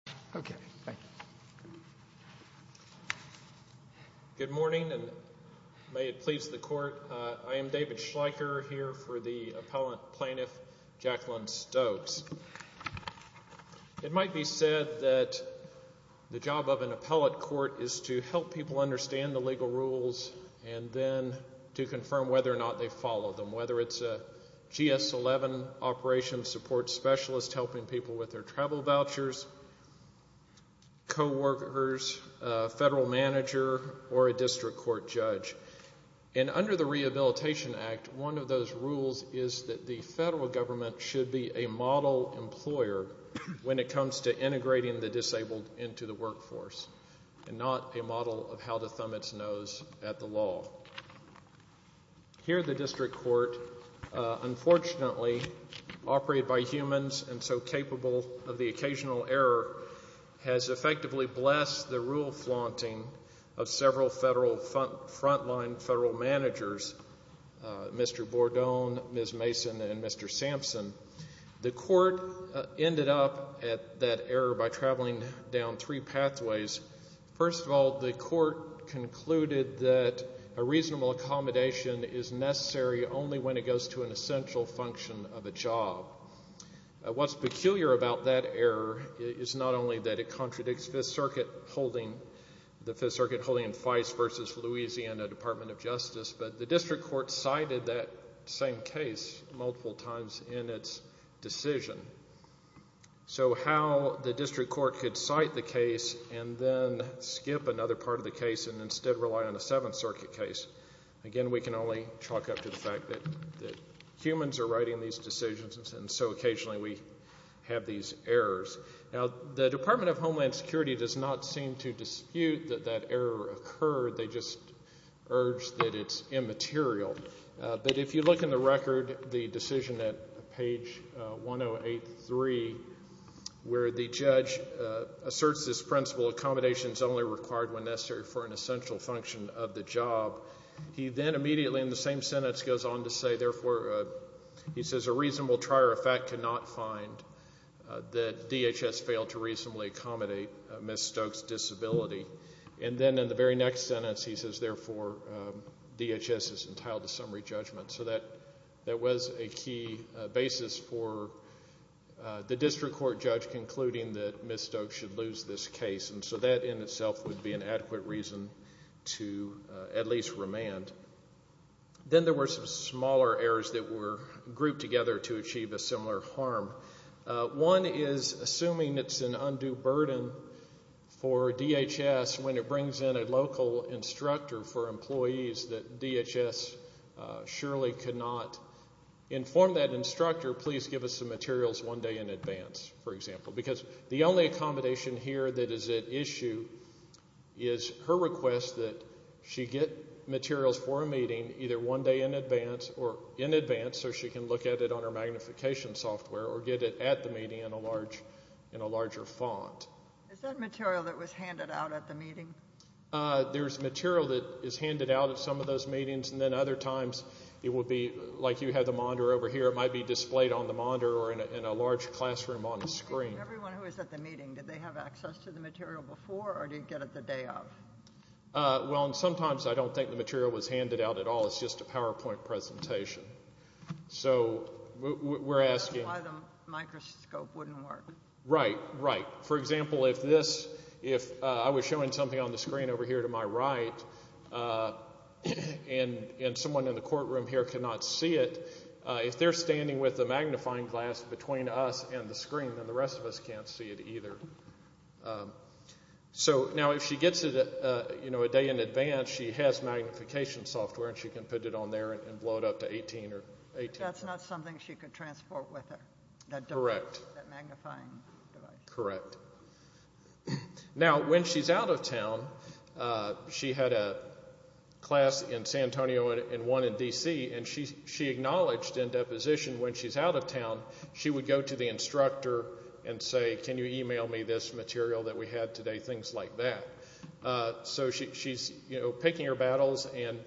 of the Attorney General's Office, and David Schleicher, Appellant Plaintiff, Jacqueline Stokes. It might be said that the job of an appellate court is to help people understand the legal rules and then to confirm whether or not they follow them, whether it's a GS-11 operations support specialist helping people with their travel vouchers, coworkers, a federal manager, or a district court judge. And under the Rehabilitation Act, one of those rules is that the federal government should be a model employer when it comes to integrating the disabled into the workforce and not a model of how to thumb its nose at the law. Here, the district court, unfortunately, operated by humans and so capable of the occasional error, has effectively blessed the rule flaunting of several federal front-line federal managers, Mr. Bordone, Ms. Mason, and Mr. Sampson. The court ended up at that error by traveling down three pathways. First of all, the court concluded that a reasonable accommodation is necessary only when it goes to an essential function of a job. What's peculiar about that error is not only that it contradicts Fifth Circuit holding, the Fifth Circuit holding FICE versus Louisiana Department of Justice, but the district court cited that same case multiple times in its decision. So how the district court could cite the case and then skip another part of the case and instead rely on the Seventh Circuit case. Again, we can only chalk up to the fact that humans are writing these decisions and so occasionally we have these errors. Now, the Department of Homeland Security does not seem to dispute that that error occurred. They just urge that it's immaterial. But if you look in the record, the decision at page 1083 where the judge asserts this principle, accommodation is only required when necessary for an essential function of the job, he then immediately in the same sentence goes on to say, therefore, he says, a reasonable trier of fact cannot find that And then in the very next sentence he says, therefore, DHS is entitled to summary judgment. So that was a key basis for the district court judge concluding that Ms. Stokes should lose this case. And so that in itself would be an adequate reason to at least remand. Then there were some smaller errors that were grouped together to achieve a similar harm. One is it brings in a local instructor for employees that DHS surely could not inform that instructor, please give us the materials one day in advance, for example. Because the only accommodation here that is at issue is her request that she get materials for a meeting either one day in advance or in advance so she can look at it on her magnification software or get it at the larger font. Is that material that was handed out at the meeting? There's material that is handed out at some of those meetings and then other times it would be like you have the monitor over here, it might be displayed on the monitor or in a large classroom on the screen. Everyone who was at the meeting, did they have access to the material before or did they get it the day of? Well, sometimes I don't think the material was handed out at all. It's just a PowerPoint presentation. So we're asking. Why the microscope wouldn't work? Right, right. For example, if this, if I was showing something on the screen over here to my right and someone in the courtroom here cannot see it, if they're standing with the magnifying glass between us and the screen, then the rest of us can't see it either. So now if she gets it a day in advance, she has magnification software and she can put it on there and blow it up to 18. That's not something she could transport with her, that magnifying device? Correct. Now, when she's out of town, she had a class in San Antonio and one in D.C. and she acknowledged in deposition when she's out of town, she would go to the So she's, you know, picking her battles and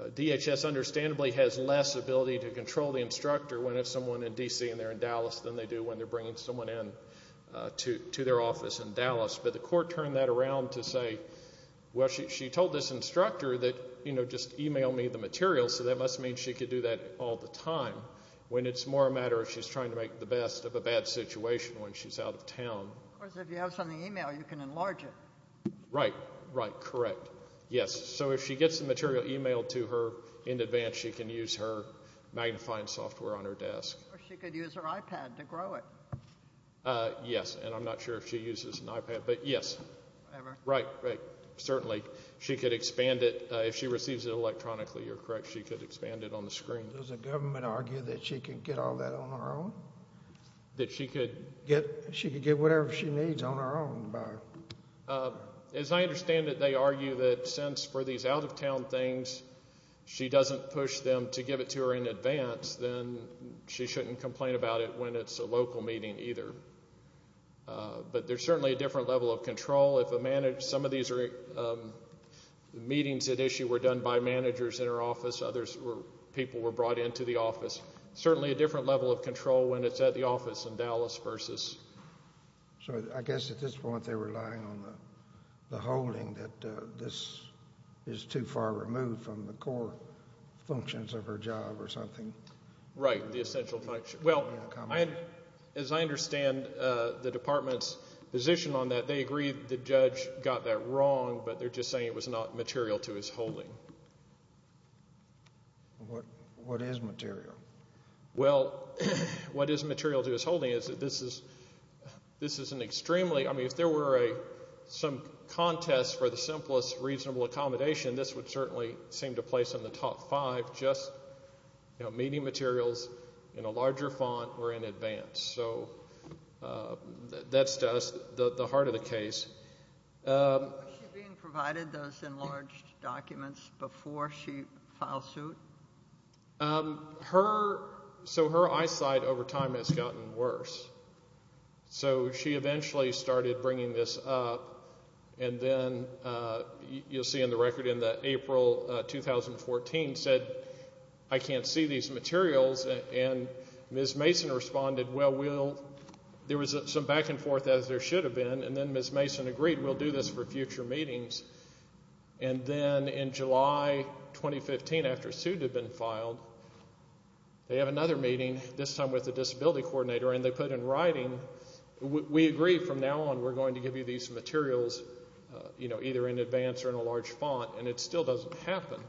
DHS understandably has less ability to control the instructor when it's someone in D.C. and they're in Dallas than they do when they're bringing someone in to their office in Dallas. But the court turned that around to say, well, she told this instructor that, you know, just email me the material, so that must mean she could do that all the time when it's more a matter of she's trying to make the best of a bad situation when she's out of town. Of course, if you have something emailed, you can enlarge it. Right. Right. Correct. Yes. So if she gets the material emailed to her in advance, she can use her magnifying software on her desk. Or she could use her iPad to grow it. Yes. And I'm not sure if she uses an iPad, but yes. Right. Certainly. She could expand it if she receives it electronically. You're correct. She could expand it on the phone. She could get whatever she needs on her own. As I understand it, they argue that since for these out of town things, she doesn't push them to give it to her in advance, then she shouldn't complain about it when it's a local meeting either. But there's certainly a different level of control. Some of these meetings at issue were done by managers in her office. Certainly a different level of control when it's at the office in Dallas versus. So I guess at this point they're relying on the holding that this is too far removed from the core functions of her job or something. Right. The essential function. Well, as I understand the department's position on that, they agree the judge got that wrong, but they're just saying it was not material to his holding. What is material? Well, what is material to his holding is that this is an extremely, I mean if there were some contest for the simplest reasonable accommodation, this would certainly seem to place in the top five, just meeting materials in a larger font or in advance. So that's just the heart of the issue. Did she provide those enlarged documents before she filed suit? Her, so her eyesight over time has gotten worse. So she eventually started bringing this up and then you'll see in the record in April 2014 said I can't see these materials and Ms. Mason responded well we'll, there was some back and forth as there should have been and then Ms. Mason agreed we'll do this for future meetings and then in July 2015 after a suit had been filed, they have another meeting, this time with the disability coordinator and they put in writing we agree from now on we're going to give you these materials, you know, either in advance or in a large font and it still doesn't happen.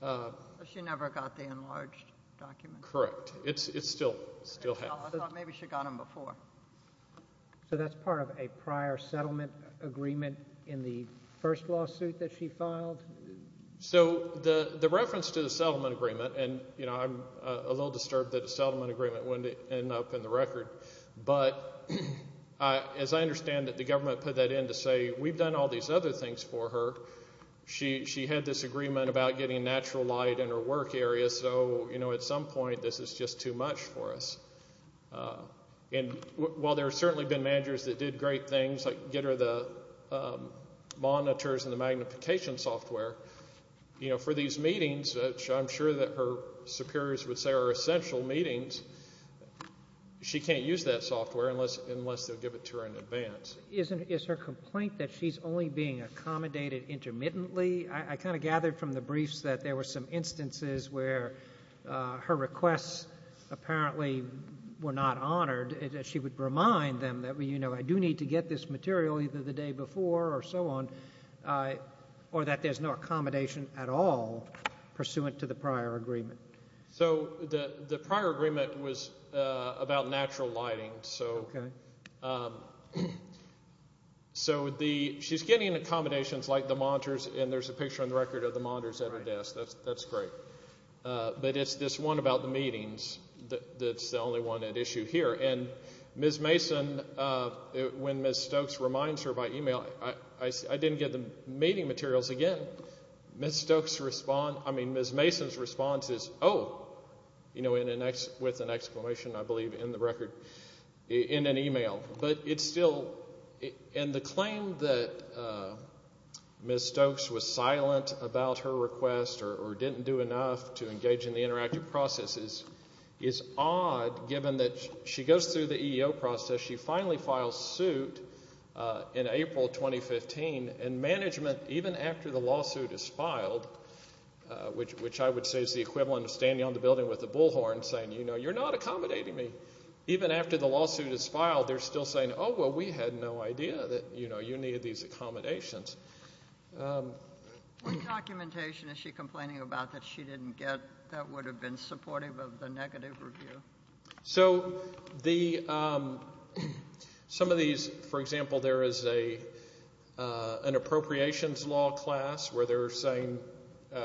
So she never got the enlarged documents? Correct. It still hasn't. I thought maybe she got them before. So that's part of a prior settlement agreement in the first lawsuit that she filed? So the reference to the settlement agreement and, you know, I'm a little disturbed that a settlement agreement wouldn't end up in the record, but as I understand it the government put that in to say we've done all these other things for her, she had this agreement about getting natural light in her work area so, you know, at some point this is just too much for us. And while there's certainly been managers that did great things like get her the monitors and the magnification software, you know, for these meetings, which I'm sure that her superiors would say are essential meetings, she can't use that software unless they'll give it to her in advance. Is her complaint that she's only being accommodated intermittently? I kind of gathered from the briefs that there were some instances where her requests apparently were not honored. She would remind them that, you know, I do need to get this material either the day before or so on, or that there's no accommodation at all pursuant to the prior agreement. So the prior agreement was about natural lighting. Okay. So she's getting accommodations like the monitors and there's a picture on the record of the monitors at her desk. That's great. But it's this one about the meetings that's the only one at issue here. And Ms. Mason, when Ms. Stokes reminds her by email, I didn't get the meeting materials again. Ms. Stokes responds, I mean Ms. Mason's response is, oh, you know, with an exclamation I believe in the record, in an email. But Ms. Stokes was silent about her request or didn't do enough to engage in the interactive processes is odd given that she goes through the EEO process. She finally files suit in April 2015 and management even after the lawsuit is filed, which I would say is the equivalent of standing on the building with a bullhorn saying, you know, you're not accommodating me. Even after the lawsuit is filed they're still saying, oh, well, we had no idea that, you know, you needed these accommodations. What documentation is she complaining about that she didn't get that would have been supportive of the negative review? So some of these, for example, there is an appropriations law class where they're saying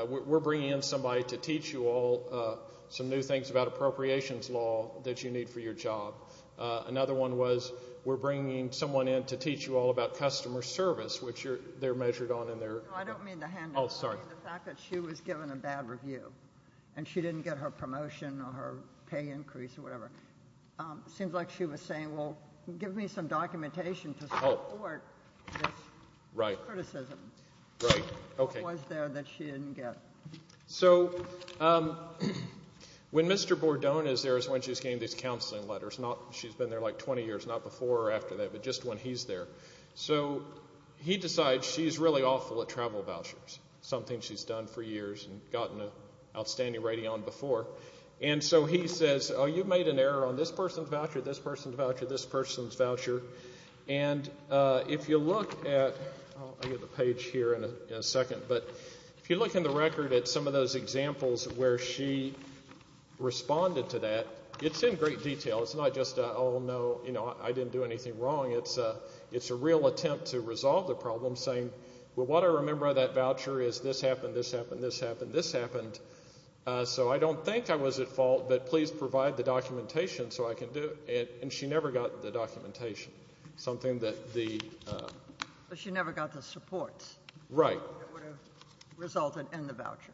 we're bringing in somebody to teach you all some new things about appropriations law that you need for your job. Another one was we're bringing someone in to teach you all about customer service, which they're measured on in their... I don't mean the handling. Oh, sorry. The fact that she was given a bad review and she didn't get her promotion or her pay increase or whatever. It seems like she was saying, well, give me some documentation to support this criticism. Right, okay. What was there that she didn't get? So when Mr. Bordone is there is when she's getting these counseling letters. She's been there like 20 years, not before or after that, but just when he's there. So he decides she's really awful at travel vouchers, something she's done for years and gotten an outstanding rating on before. And so he says, oh, you made an error on this person's voucher, this person's voucher, this person's voucher. And if you look at, I'll get the page here in a second, but if you look in the record at some of those examples where she responded to that, it's in great detail. It's not just, oh, no, I didn't do anything wrong. It's a real attempt to resolve the problem, saying, well, what I remember of that voucher is this happened, this happened, this happened, this happened. So I don't think I was at fault, but please provide the documentation so I can do it. And she never got the documentation, something that the... But she never got the supports. Right. That would have resulted in the voucher.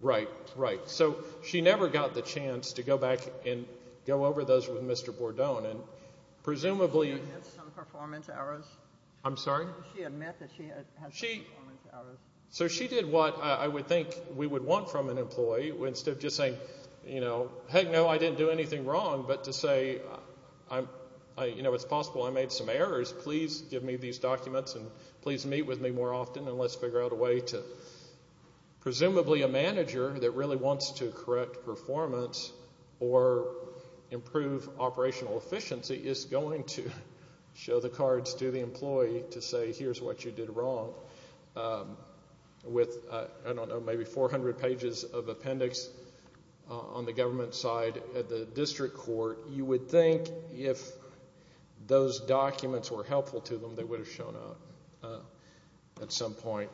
Right, right. So she never got the chance to go back and go over those with Mr. Bordone, and presumably... Did she admit some performance errors? I'm sorry? Did she admit that she had some performance errors? So she did what I would think we would want from an employee, instead of just saying, you know, heck no, I didn't do anything wrong, but to say, you know, it's possible I made some errors. Please give me these documents and please meet with me more often and let's figure out a way to... Presumably a manager that really wants to correct performance or improve operational efficiency is going to show the cards to the employee to say here's what you did wrong with, I don't know, maybe 400 pages of appendix on the government side at the district court. You would think if those were correct at some point.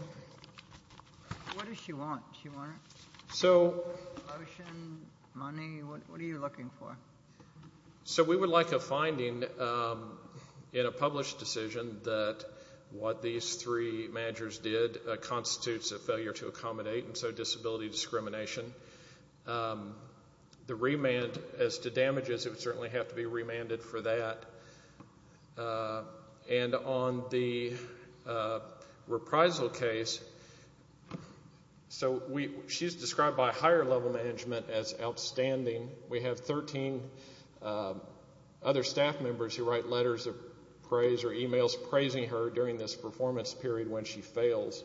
What does she want? So... Motion, money, what are you looking for? So we would like a finding in a published decision that what these three managers did constitutes a failure to accommodate, and so disability reprisal case, so she's described by higher level management as outstanding. We have 13 other staff members who write letters of praise or emails praising her during this performance period when she fails.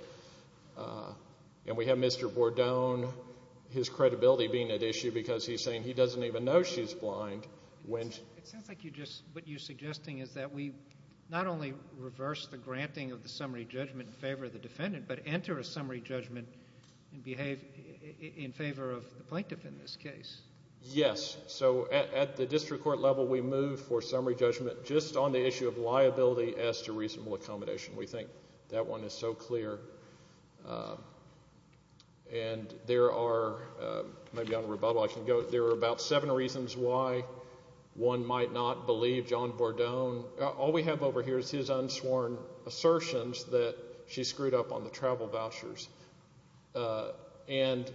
And we have Mr. Bordone, his credibility being at issue because he's saying he doesn't even know she's blind. It sounds like what you're suggesting is that we not only reverse the granting of the summary judgment in favor of the defendant, but enter a summary judgment in favor of the plaintiff in this case. Yes, so at the district court level we move for summary judgment just on the issue of liability as to reasonable accommodation. We think that one is so clear. And there are, maybe on rebuttal I can go, there are about seven reasons why one might not believe John Bordone. All we have over here is his unsworn assertions that she screwed up on the travel vouchers. And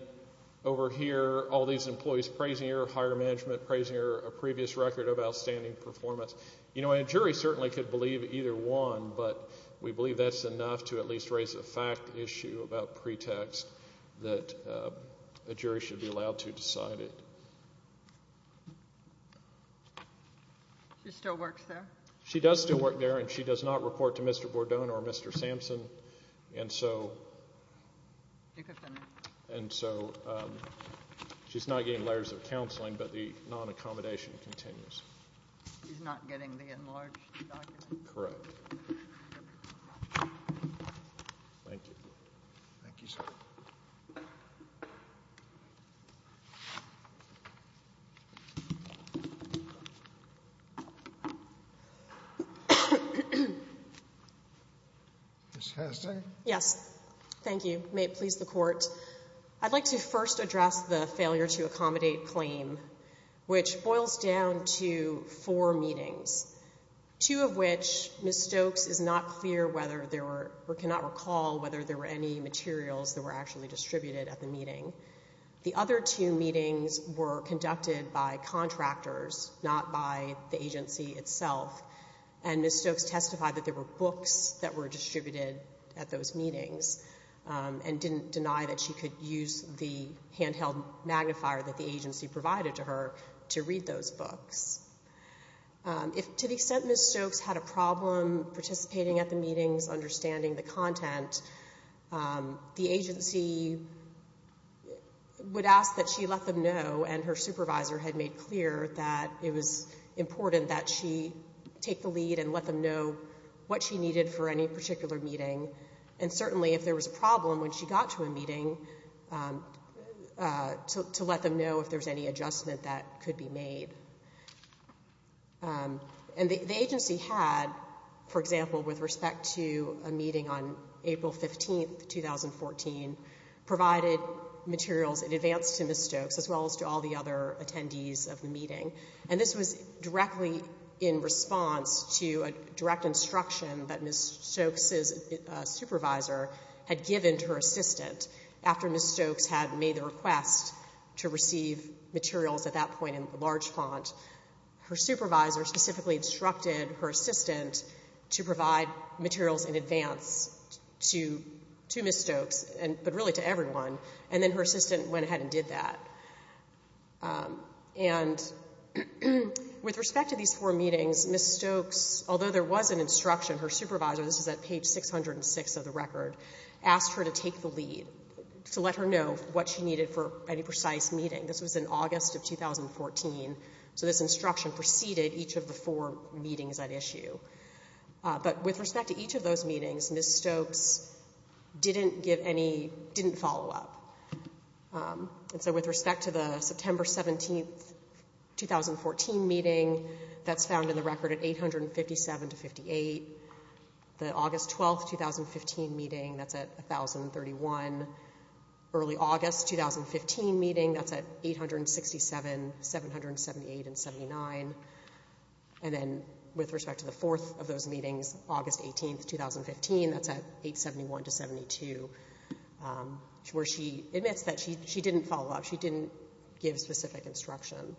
over here, all these employees praising her, higher management praising her, a previous record of outstanding performance. You know, a jury certainly could believe either one, but we believe that's enough to at least raise a fact issue about pretext that a jury should be allowed to decide it. She still works there? She does still work there, and she does not report to Mr. Bordone or Mr. Sampson. And so she's not getting letters of counseling, but the non-accommodation continues. She's not getting letters of counseling, but the non-accommodation continues. Thank you, sir. Ms. Haslund? Yes. Thank you. May it please the Court. I'd like to first address the failure to accommodate claim, which boils down to four meetings, two of which Ms. Stokes is not clear whether there were or cannot recall whether there were any materials that were actually distributed at the meeting. The other two meetings were conducted by contractors, not by the agency itself, and Ms. Stokes testified that there were books that were distributed at those meetings and didn't deny that she could use the handheld magnifier that the agency provided to her to read those books. To the extent Ms. Stokes had a problem understanding the content, the agency would ask that she let them know, and her supervisor had made clear that it was important that she take the lead and let them know what she needed for any particular meeting, and certainly if there was a problem when she got to a meeting, to let them know if there was any adjustment that could be made. And the agency had, for example, with respect to a meeting on April 15, 2014, provided materials in advance to Ms. Stokes as well as to all the other attendees of the meeting, and this was directly in response to a direct instruction that Ms. Stokes' supervisor had given to her assistant after Ms. Stokes had made the request to receive materials at that point in the large font. Her supervisor specifically instructed her assistant to provide materials in advance to Ms. Stokes, but really to everyone, and then her assistant went ahead and did that. And with respect to these four meetings, Ms. Stokes, although there was an instruction, her supervisor, this is at page 606 of the record, asked her to take the lead, to let her know what she needed for any precise meeting. This was in August of 2014, so this instruction preceded each of the four meetings at issue. But with respect to each of those meetings, Ms. Stokes didn't give any, didn't follow up. And so with respect to the September 17, 2014 meeting, that's found in the record at 857 to 58. The August 12, 2015 meeting, that's at 1,031. Early August 2015 meeting, that's at 867, 778, and 79. And then with respect to the fourth of those meetings, August 18, 2015, that's at 871 to 72, where she admits that she didn't follow up, she didn't give specific instruction.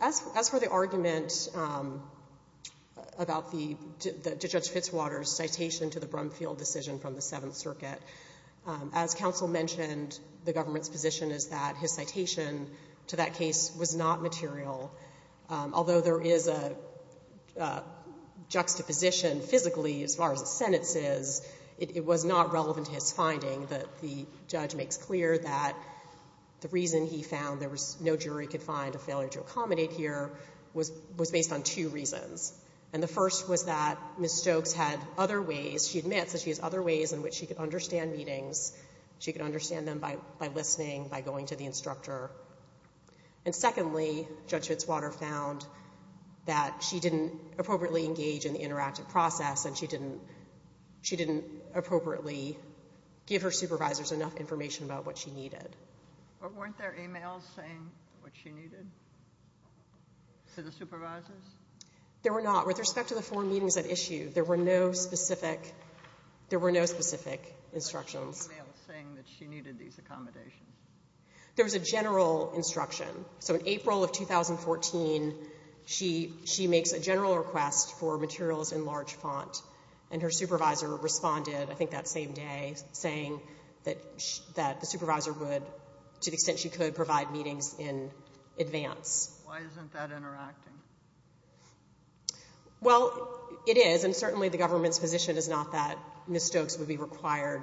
As for the argument about Judge Fitzwater's citation to the Brumfield decision from the Seventh Circuit, as counsel mentioned, the government's position is that his citation to that case was not material. Although there is a juxtaposition physically as far as the sentence is, it was not relevant to his finding that the judge makes clear that the reason he found there was no jury could find a failure to accommodate here was based on two reasons. And the first was that Ms. Stokes had other ways, she admits that she has other ways in which she could understand meetings. She could understand them by listening, by going to the instructor. And secondly, Judge Fitzwater found that she didn't appropriately engage in the interactive process and she didn't, she didn't appropriately give her supervisors enough information about what she needed. Or weren't there e-mails saying what she needed to the supervisors? There were not. With respect to the four meetings at issue, there were no specific, there were no specific instructions. There were no e-mails saying that she needed these accommodations. There was a general instruction. So in April of 2014, she makes a general request for materials in large font. And her supervisor responded, I think that same day, saying that the supervisor would, to the extent she could, provide meetings in advance. Why isn't that interacting? Well, it is, and certainly the government's position is not that Ms. Stokes would be required,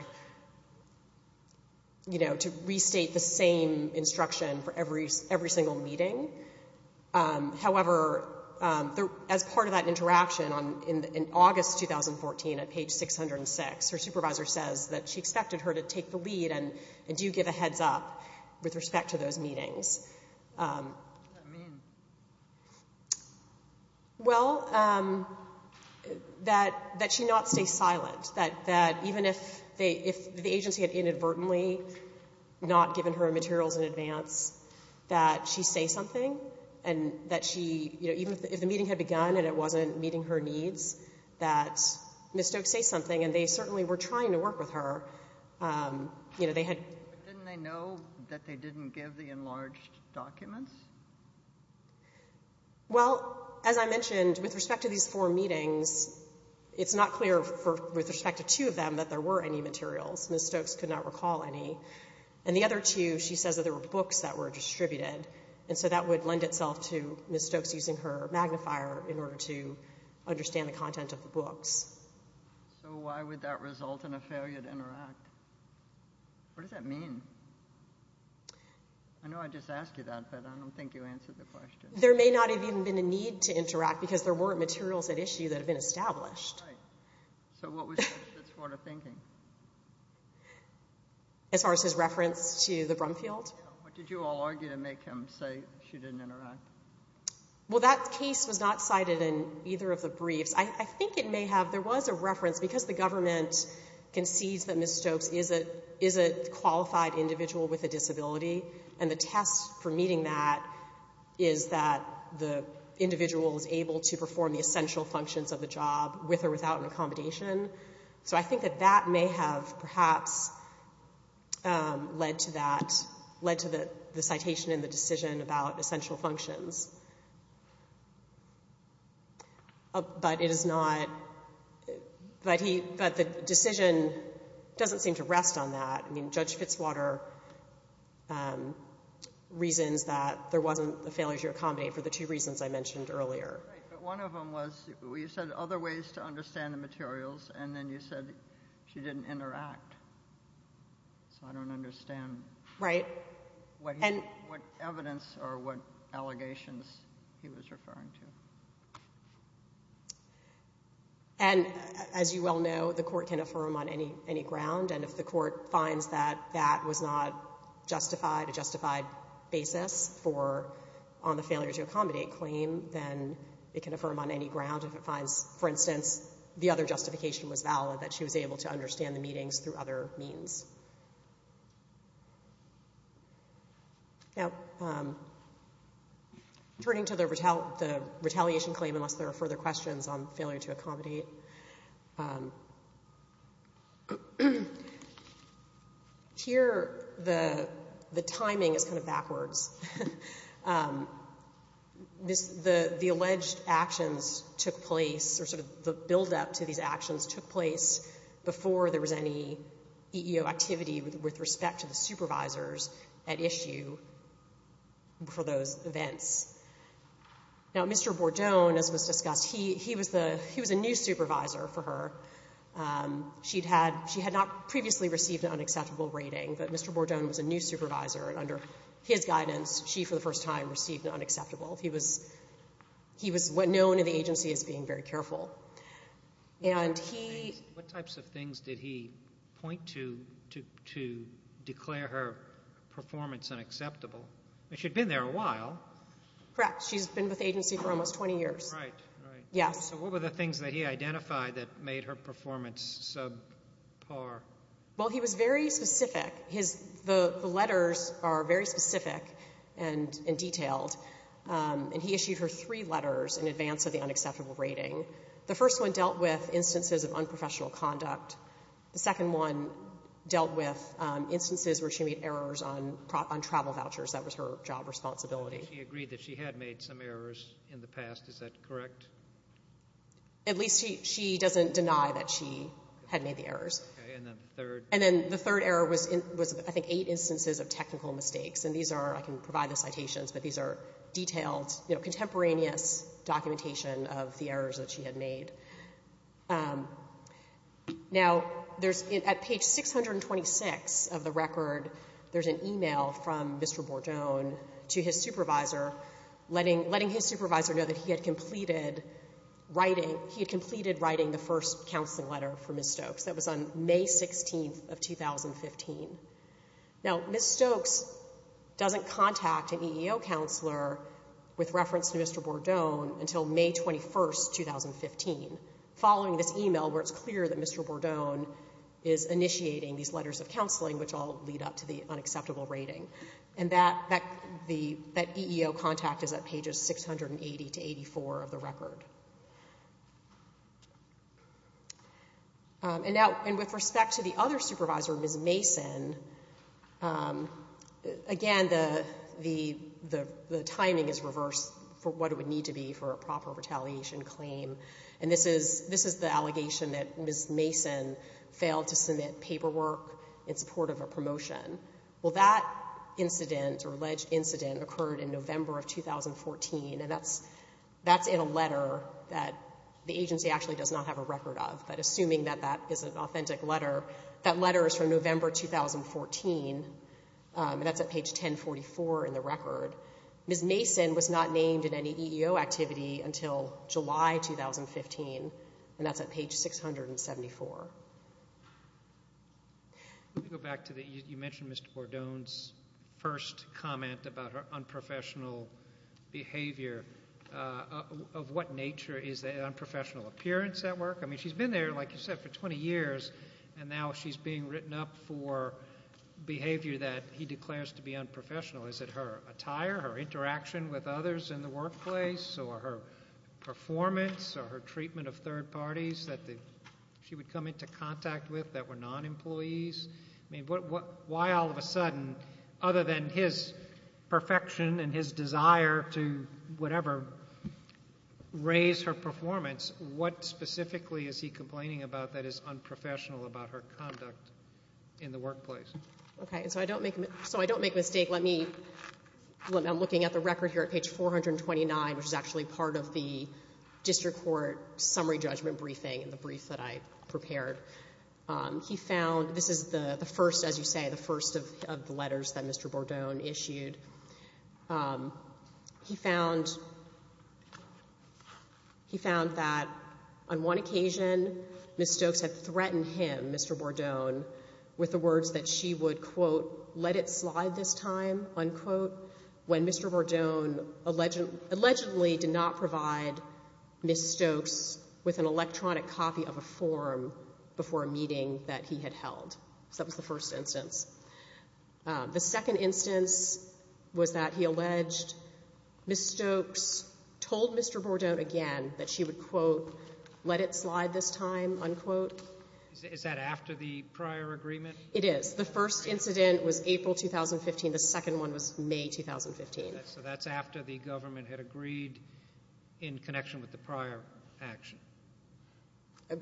you know, to restate the same instruction for every single meeting. However, as part of that interaction in August 2014 at page 606, her supervisor says that she expected her to take the lead and do give a heads up with respect to those meetings. What does that mean? Well, that, that she not stay silent. That, that even if they, if the agency had inadvertently not given her materials in advance, that she say something. And that she, you know, even if the meeting had begun and it wasn't meeting her needs, that Ms. Stokes say something, and they certainly were trying to work with her. You know, they had But didn't they know that they didn't give the enlarged documents? Well, as I mentioned, with respect to these four meetings, it's not clear for, with respect to two of them, that there were any materials. Ms. Stokes could not recall any. And the other two, she says that there were books that were distributed. And so that would lend itself to Ms. Stokes using her magnifier in order to understand the content of the books. So why would that result in a failure to interact? What does that mean? I know I just asked you that, but I don't think you answered the question. There may not have even been a need to interact because there weren't materials at issue that had been established. So what was Ms. Stokes' sort of thinking? As far as his reference to the Brumfield? What did you all argue to make him say she didn't interact? Well, that case was not cited in either of the briefs. I think it may have. There was a reference. Because the government concedes that Ms. Stokes is a qualified individual with a disability, and the test for meeting that is that the individual is able to perform the essential functions of the job with or without an accommodation. So I think that that may have perhaps led to that, led to the citation and the decision about essential functions. But it is not. But the decision doesn't seem to rest on that. I mean, Judge Fitzwater reasons that there wasn't a failure to accommodate for the two reasons I mentioned earlier. Right. But one of them was you said other ways to understand the materials, and then you said she didn't interact. So I don't understand what evidence or what allegations he was referring to. And as you well know, the Court can affirm on any ground, and if the Court finds that that was not justified, a justified basis for on the failure to accommodate claim, then it can affirm on any ground. If it finds, for instance, the other justification was valid, that she was able to understand the meetings through other means. Now, turning to the retaliation claim, unless there are further questions on failure to accommodate, here the timing is kind of backwards. The alleged actions took place, or sort of the buildup to these actions took place before there was any EEO activity with respect to the supervisors at issue for those events. Now, Mr. Bourdon, as was discussed, he was a new supervisor for her. She had not previously received an unacceptable rating, but Mr. Bourdon was a new supervisor, and under his guidance, she, for the first time, received unacceptable. He was known in the agency as being very careful. What types of things did he point to to declare her performance unacceptable? She had been there a while. Correct. She's been with the agency for almost 20 years. Right, right. Yes. So what were the things that he identified that made her performance subpar? Well, he was very specific. His — the letters are very specific and detailed, and he issued her three letters in advance of the unacceptable rating. The first one dealt with instances of unprofessional conduct. The second one dealt with instances where she made errors on travel vouchers. That was her job responsibility. She agreed that she had made some errors in the past. Is that correct? At least she doesn't deny that she had made the errors. Okay. And then the third? The third error was, I think, eight instances of technical mistakes, and these are — I can provide the citations, but these are detailed, contemporaneous documentation of the errors that she had made. Now, there's — at page 626 of the record, there's an email from Mr. Bordone to his supervisor letting his supervisor know that he had completed writing — he had completed writing the first counseling letter for Ms. Stokes. That was on May 16th of 2015. Now, Ms. Stokes doesn't contact an EEO counselor with reference to Mr. Bordone until May 21st, 2015, following this email where it's clear that Mr. Bordone is initiating these letters of counseling, which all lead up to the unacceptable rating. And that EEO contact is at pages 680 to 84 of the record. And now, with respect to the other supervisor, Ms. Mason, again, the timing is reversed for what it would need to be for a proper retaliation claim. And this is the allegation that Ms. Mason failed to submit paperwork in support of a promotion. Well, that incident, or alleged incident, occurred in November of 2014, and that's in a letter that the agency actually does not have a record of, but assuming that that is an authentic letter. That letter is from November 2014, and that's at page 1044 in the record. Ms. Mason was not named in any EEO activity until July 2015, and that's at page 674. You mentioned Mr. Bordone's first comment about her unprofessional behavior. Of what nature is that unprofessional appearance at work? I mean, she's been there, like you said, for 20 years, and now she's being written up for behavior that he declares to be unprofessional. Is it her attire, her interaction with others in the workplace, or her performance, or her treatment of third parties that she would come into contact with that were non-employees? I mean, why all of a sudden, other than his perfection and his desire to whatever, raise her performance, what specifically is he complaining about that is unprofessional about her conduct in the workplace? Okay, so I don't make a mistake. I'm looking at the record here at page 429, which is actually part of the district court summary judgment briefing, the brief that I prepared. This is the first, as you say, the first of the letters that Mr. Bordone issued. He found that on one occasion, Ms. Stokes had threatened him, Mr. Bordone, with the words that she would, quote, let it slide this time, unquote, when Mr. Bordone allegedly did not provide Ms. Stokes with an electronic copy of a form before a meeting that he had held. So that was the first instance. The second instance was that he alleged Ms. Stokes told Mr. Bordone again that she would, quote, let it slide this time, unquote. Is that after the prior agreement? It is. The first incident was April 2015. The second one was May 2015. So that's after the government had agreed in connection with the prior action.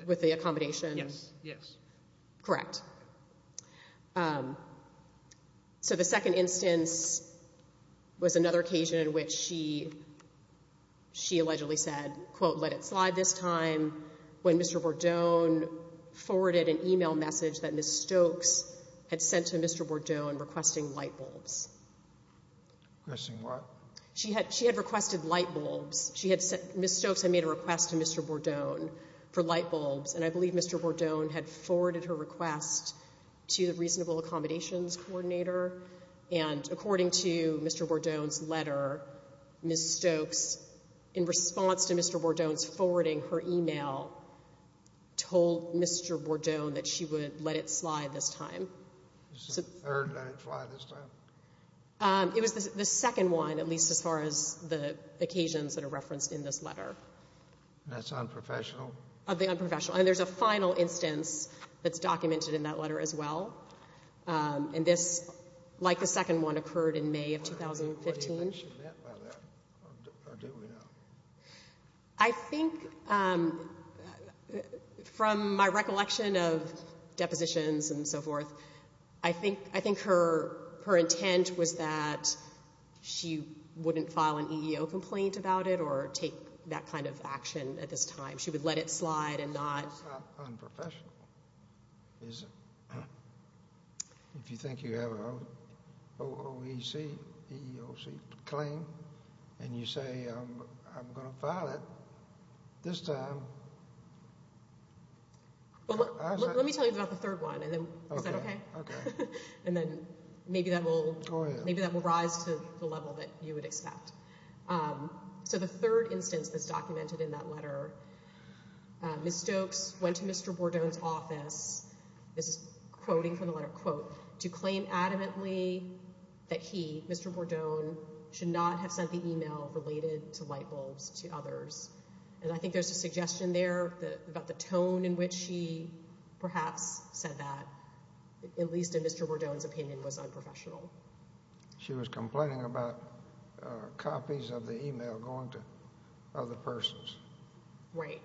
With the accommodation? Yes, yes. Correct. So the second instance was another occasion in which she allegedly said, quote, let it slide this time, when Mr. Bordone forwarded an e-mail message that Ms. Stokes had sent to Mr. Bordone requesting light bulbs. Requesting what? She had requested light bulbs. Ms. Stokes had made a request to Mr. Bordone for light bulbs, and I believe Mr. Bordone had forwarded her request to the reasonable accommodations coordinator. And according to Mr. Bordone's letter, Ms. Stokes, in response to Mr. Bordone's forwarding her e-mail, told Mr. Bordone that she would let it slide this time. The third let it slide this time? It was the second one, at least as far as the occasions that are referenced in this letter. That's unprofessional? Unprofessional. And there's a final instance that's documented in that letter as well. And this, like the second one, occurred in May of 2015. What do you think she meant by that, or do we know? I think from my recollection of depositions and so forth, I think her intent was that she wouldn't file an EEO complaint about it or take that kind of action at this time. She would let it slide and not. That's unprofessional. If you think you have an OEOC claim and you say, I'm going to file it this time. Let me tell you about the third one. Is that okay? Okay. And then maybe that will rise to the level that you would expect. So the third instance that's documented in that letter, Ms. Stokes went to Mr. Bordone's office, this is quoting from the letter, to claim adamantly that he, Mr. Bordone, should not have sent the email related to light bulbs to others. And I think there's a suggestion there about the tone in which she perhaps said that, at least in Mr. Bordone's opinion, was unprofessional. She was complaining about copies of the email going to other persons. Right.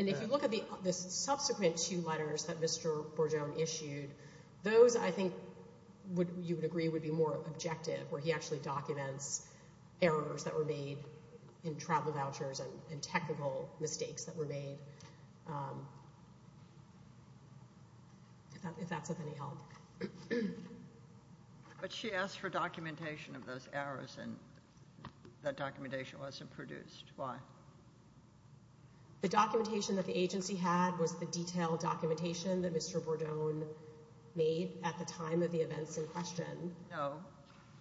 And if you look at the subsequent two letters that Mr. Bordone issued, those I think you would agree would be more objective, where he actually documents errors that were made in travel vouchers and technical mistakes that were made, if that's of any help. But she asked for documentation of those errors, and that documentation wasn't produced. Why? The documentation that the agency had was the detailed documentation that Mr. Bordone made at the time of the events in question. No,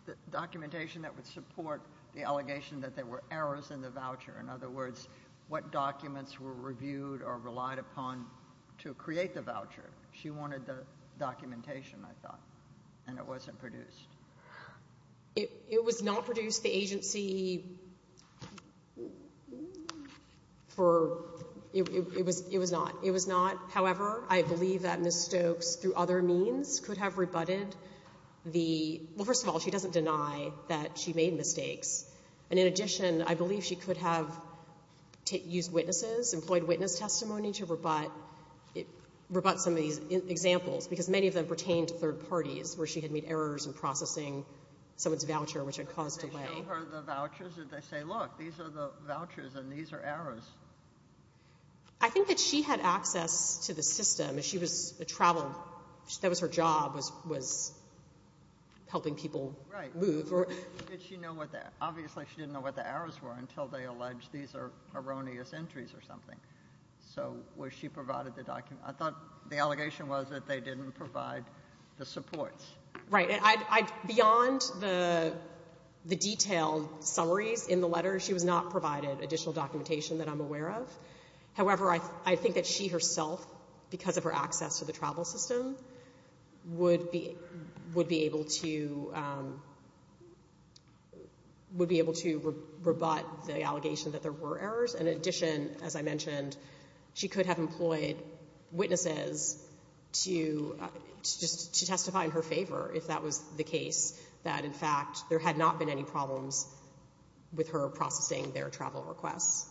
the documentation that would support the allegation that there were errors in the voucher or, in other words, what documents were reviewed or relied upon to create the voucher. She wanted the documentation, I thought, and it wasn't produced. It was not produced. The agency for — it was not. It was not. However, I believe that Ms. Stokes, through other means, could have rebutted the — well, first of all, she doesn't deny that she made mistakes. And in addition, I believe she could have used witnesses, employed witness testimony to rebut some of these examples, because many of them pertained to third parties where she had made errors in processing someone's voucher, which had caused delay. Did they show her the vouchers? Did they say, look, these are the vouchers and these are errors? I think that she had access to the system. She was a traveler. That was her job, was helping people move. Right. Did she know what the — obviously, she didn't know what the errors were until they alleged these are erroneous entries or something. So was she provided the document? I thought the allegation was that they didn't provide the supports. Right. Beyond the detailed summaries in the letter, she was not provided additional documentation that I'm aware of. However, I think that she herself, because of her access to the travel system, would be able to rebut the allegation that there were errors. In addition, as I mentioned, she could have employed witnesses to testify in her favor if that was the case, that, in fact, there had not been any problems with her processing their travel requests.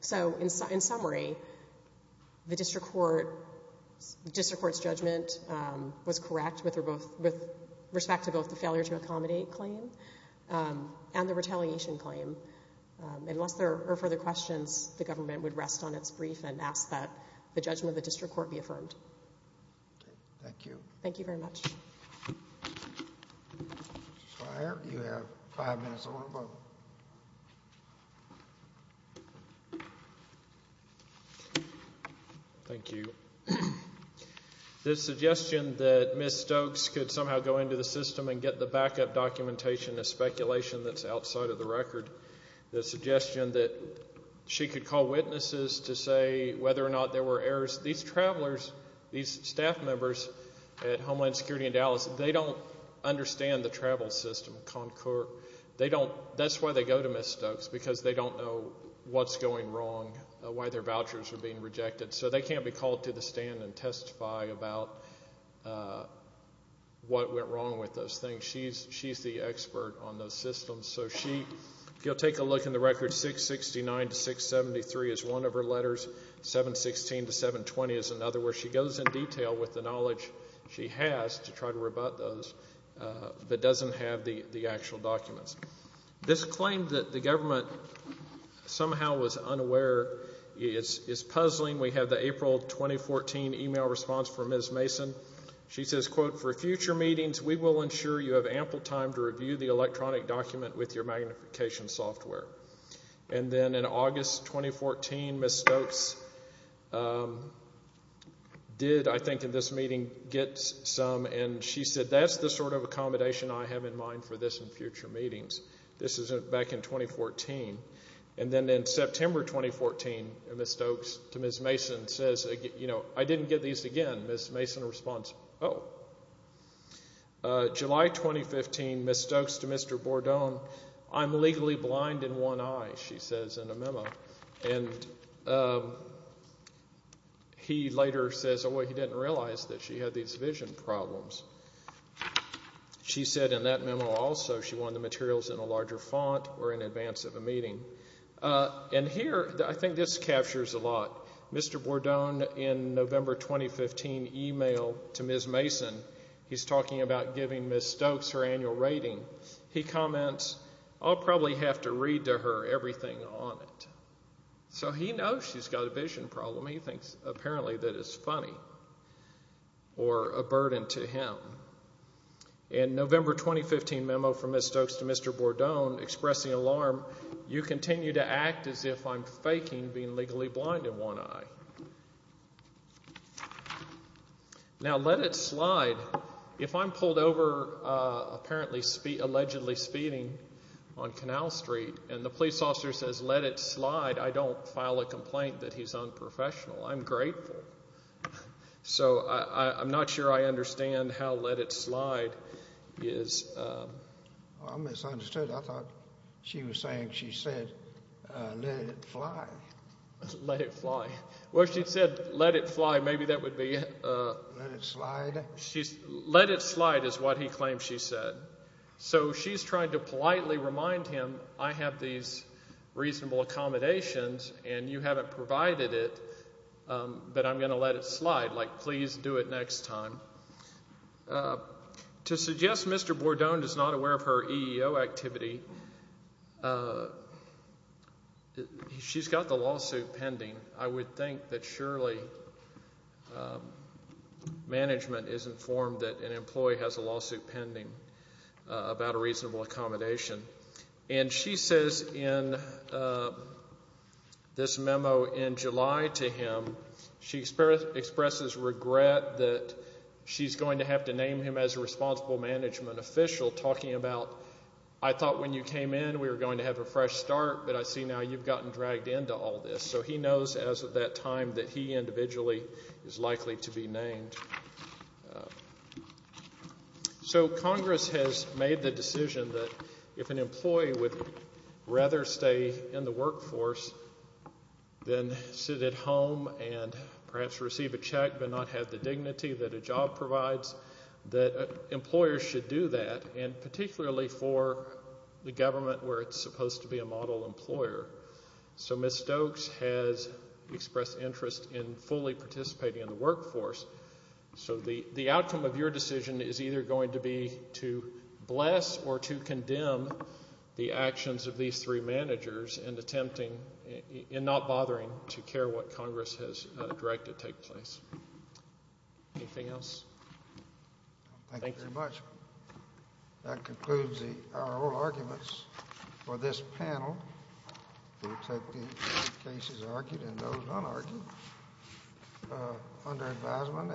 So, in summary, the district court's judgment was correct with respect to both the failure to accommodate claim and the retaliation claim. Unless there are further questions, the government would rest on its brief and ask that the judgment of the district court be affirmed. Thank you. Thank you very much. Mr. Swire, you have five minutes on the roll. Thank you. The suggestion that Ms. Stokes could somehow go into the system and get the backup documentation is speculation that's outside of the record. The suggestion that she could call witnesses to say whether or not there were errors. These travelers, these staff members at Homeland Security in Dallas, they don't understand the travel system. That's why they go to Ms. Stokes, because they don't know what's going wrong, why their vouchers are being rejected. So they can't be called to the stand and testify about what went wrong with those things. She's the expert on those systems. If you'll take a look in the record, 669 to 673 is one of her letters. 716 to 720 is another where she goes in detail with the knowledge she has to try to rebut those, but doesn't have the actual documents. This claim that the government somehow was unaware is puzzling. We have the April 2014 email response from Ms. Mason. She says, quote, We will ensure you have ample time to review the electronic document with your magnification software. Then in August 2014, Ms. Stokes did, I think in this meeting, get some. She said, that's the sort of accommodation I have in mind for this in future meetings. This is back in 2014. Then in September 2014, Ms. Stokes to Ms. Mason says, I didn't get these again. Ms. Mason responds, oh. July 2015, Ms. Stokes to Mr. Bourdon, I'm legally blind in one eye, she says in a memo. And he later says, oh, he didn't realize that she had these vision problems. She said in that memo also she wanted the materials in a larger font or in advance of a meeting. And here, I think this captures a lot. Mr. Bourdon in November 2015 emailed to Ms. Mason. He's talking about giving Ms. Stokes her annual rating. He comments, I'll probably have to read to her everything on it. So he knows she's got a vision problem. He thinks apparently that it's funny or a burden to him. In November 2015 memo from Ms. Stokes to Mr. Bourdon expressing alarm, you continue to act as if I'm faking being legally blind in one eye. Now, let it slide. If I'm pulled over apparently allegedly speeding on Canal Street and the police officer says let it slide, I don't file a complaint that he's unprofessional. I'm grateful. So I'm not sure I understand how let it slide is. I misunderstood. I thought she was saying she said let it fly. Let it fly. Well, she said let it fly. Maybe that would be. Let it slide. Let it slide is what he claims she said. So she's trying to politely remind him I have these reasonable accommodations and you haven't provided it, but I'm going to let it slide. Like please do it next time. To suggest Mr. Bourdon is not aware of her EEO activity, she's got the lawsuit pending. I would think that surely management is informed that an employee has a lawsuit pending about a reasonable accommodation. And she says in this memo in July to him she expresses regret that she's going to have to name him as a responsible management official talking about I thought when you came in we were going to have a fresh start, but I see now you've gotten dragged into all this. So he knows as of that time that he individually is likely to be named. So Congress has made the decision that if an employee would rather stay in the workforce than sit at home and perhaps receive a check but not have the dignity that a job provides, that employers should do that, and particularly for the government where it's supposed to be a model employer. So Ms. Stokes has expressed interest in fully participating in the workforce. So the outcome of your decision is either going to be to bless or to condemn the actions of these three managers in attempting and not bothering to care what Congress has directed take place. Anything else? Thank you very much. That concludes our oral arguments for this panel. We'll take the cases argued and those unargued under advisement.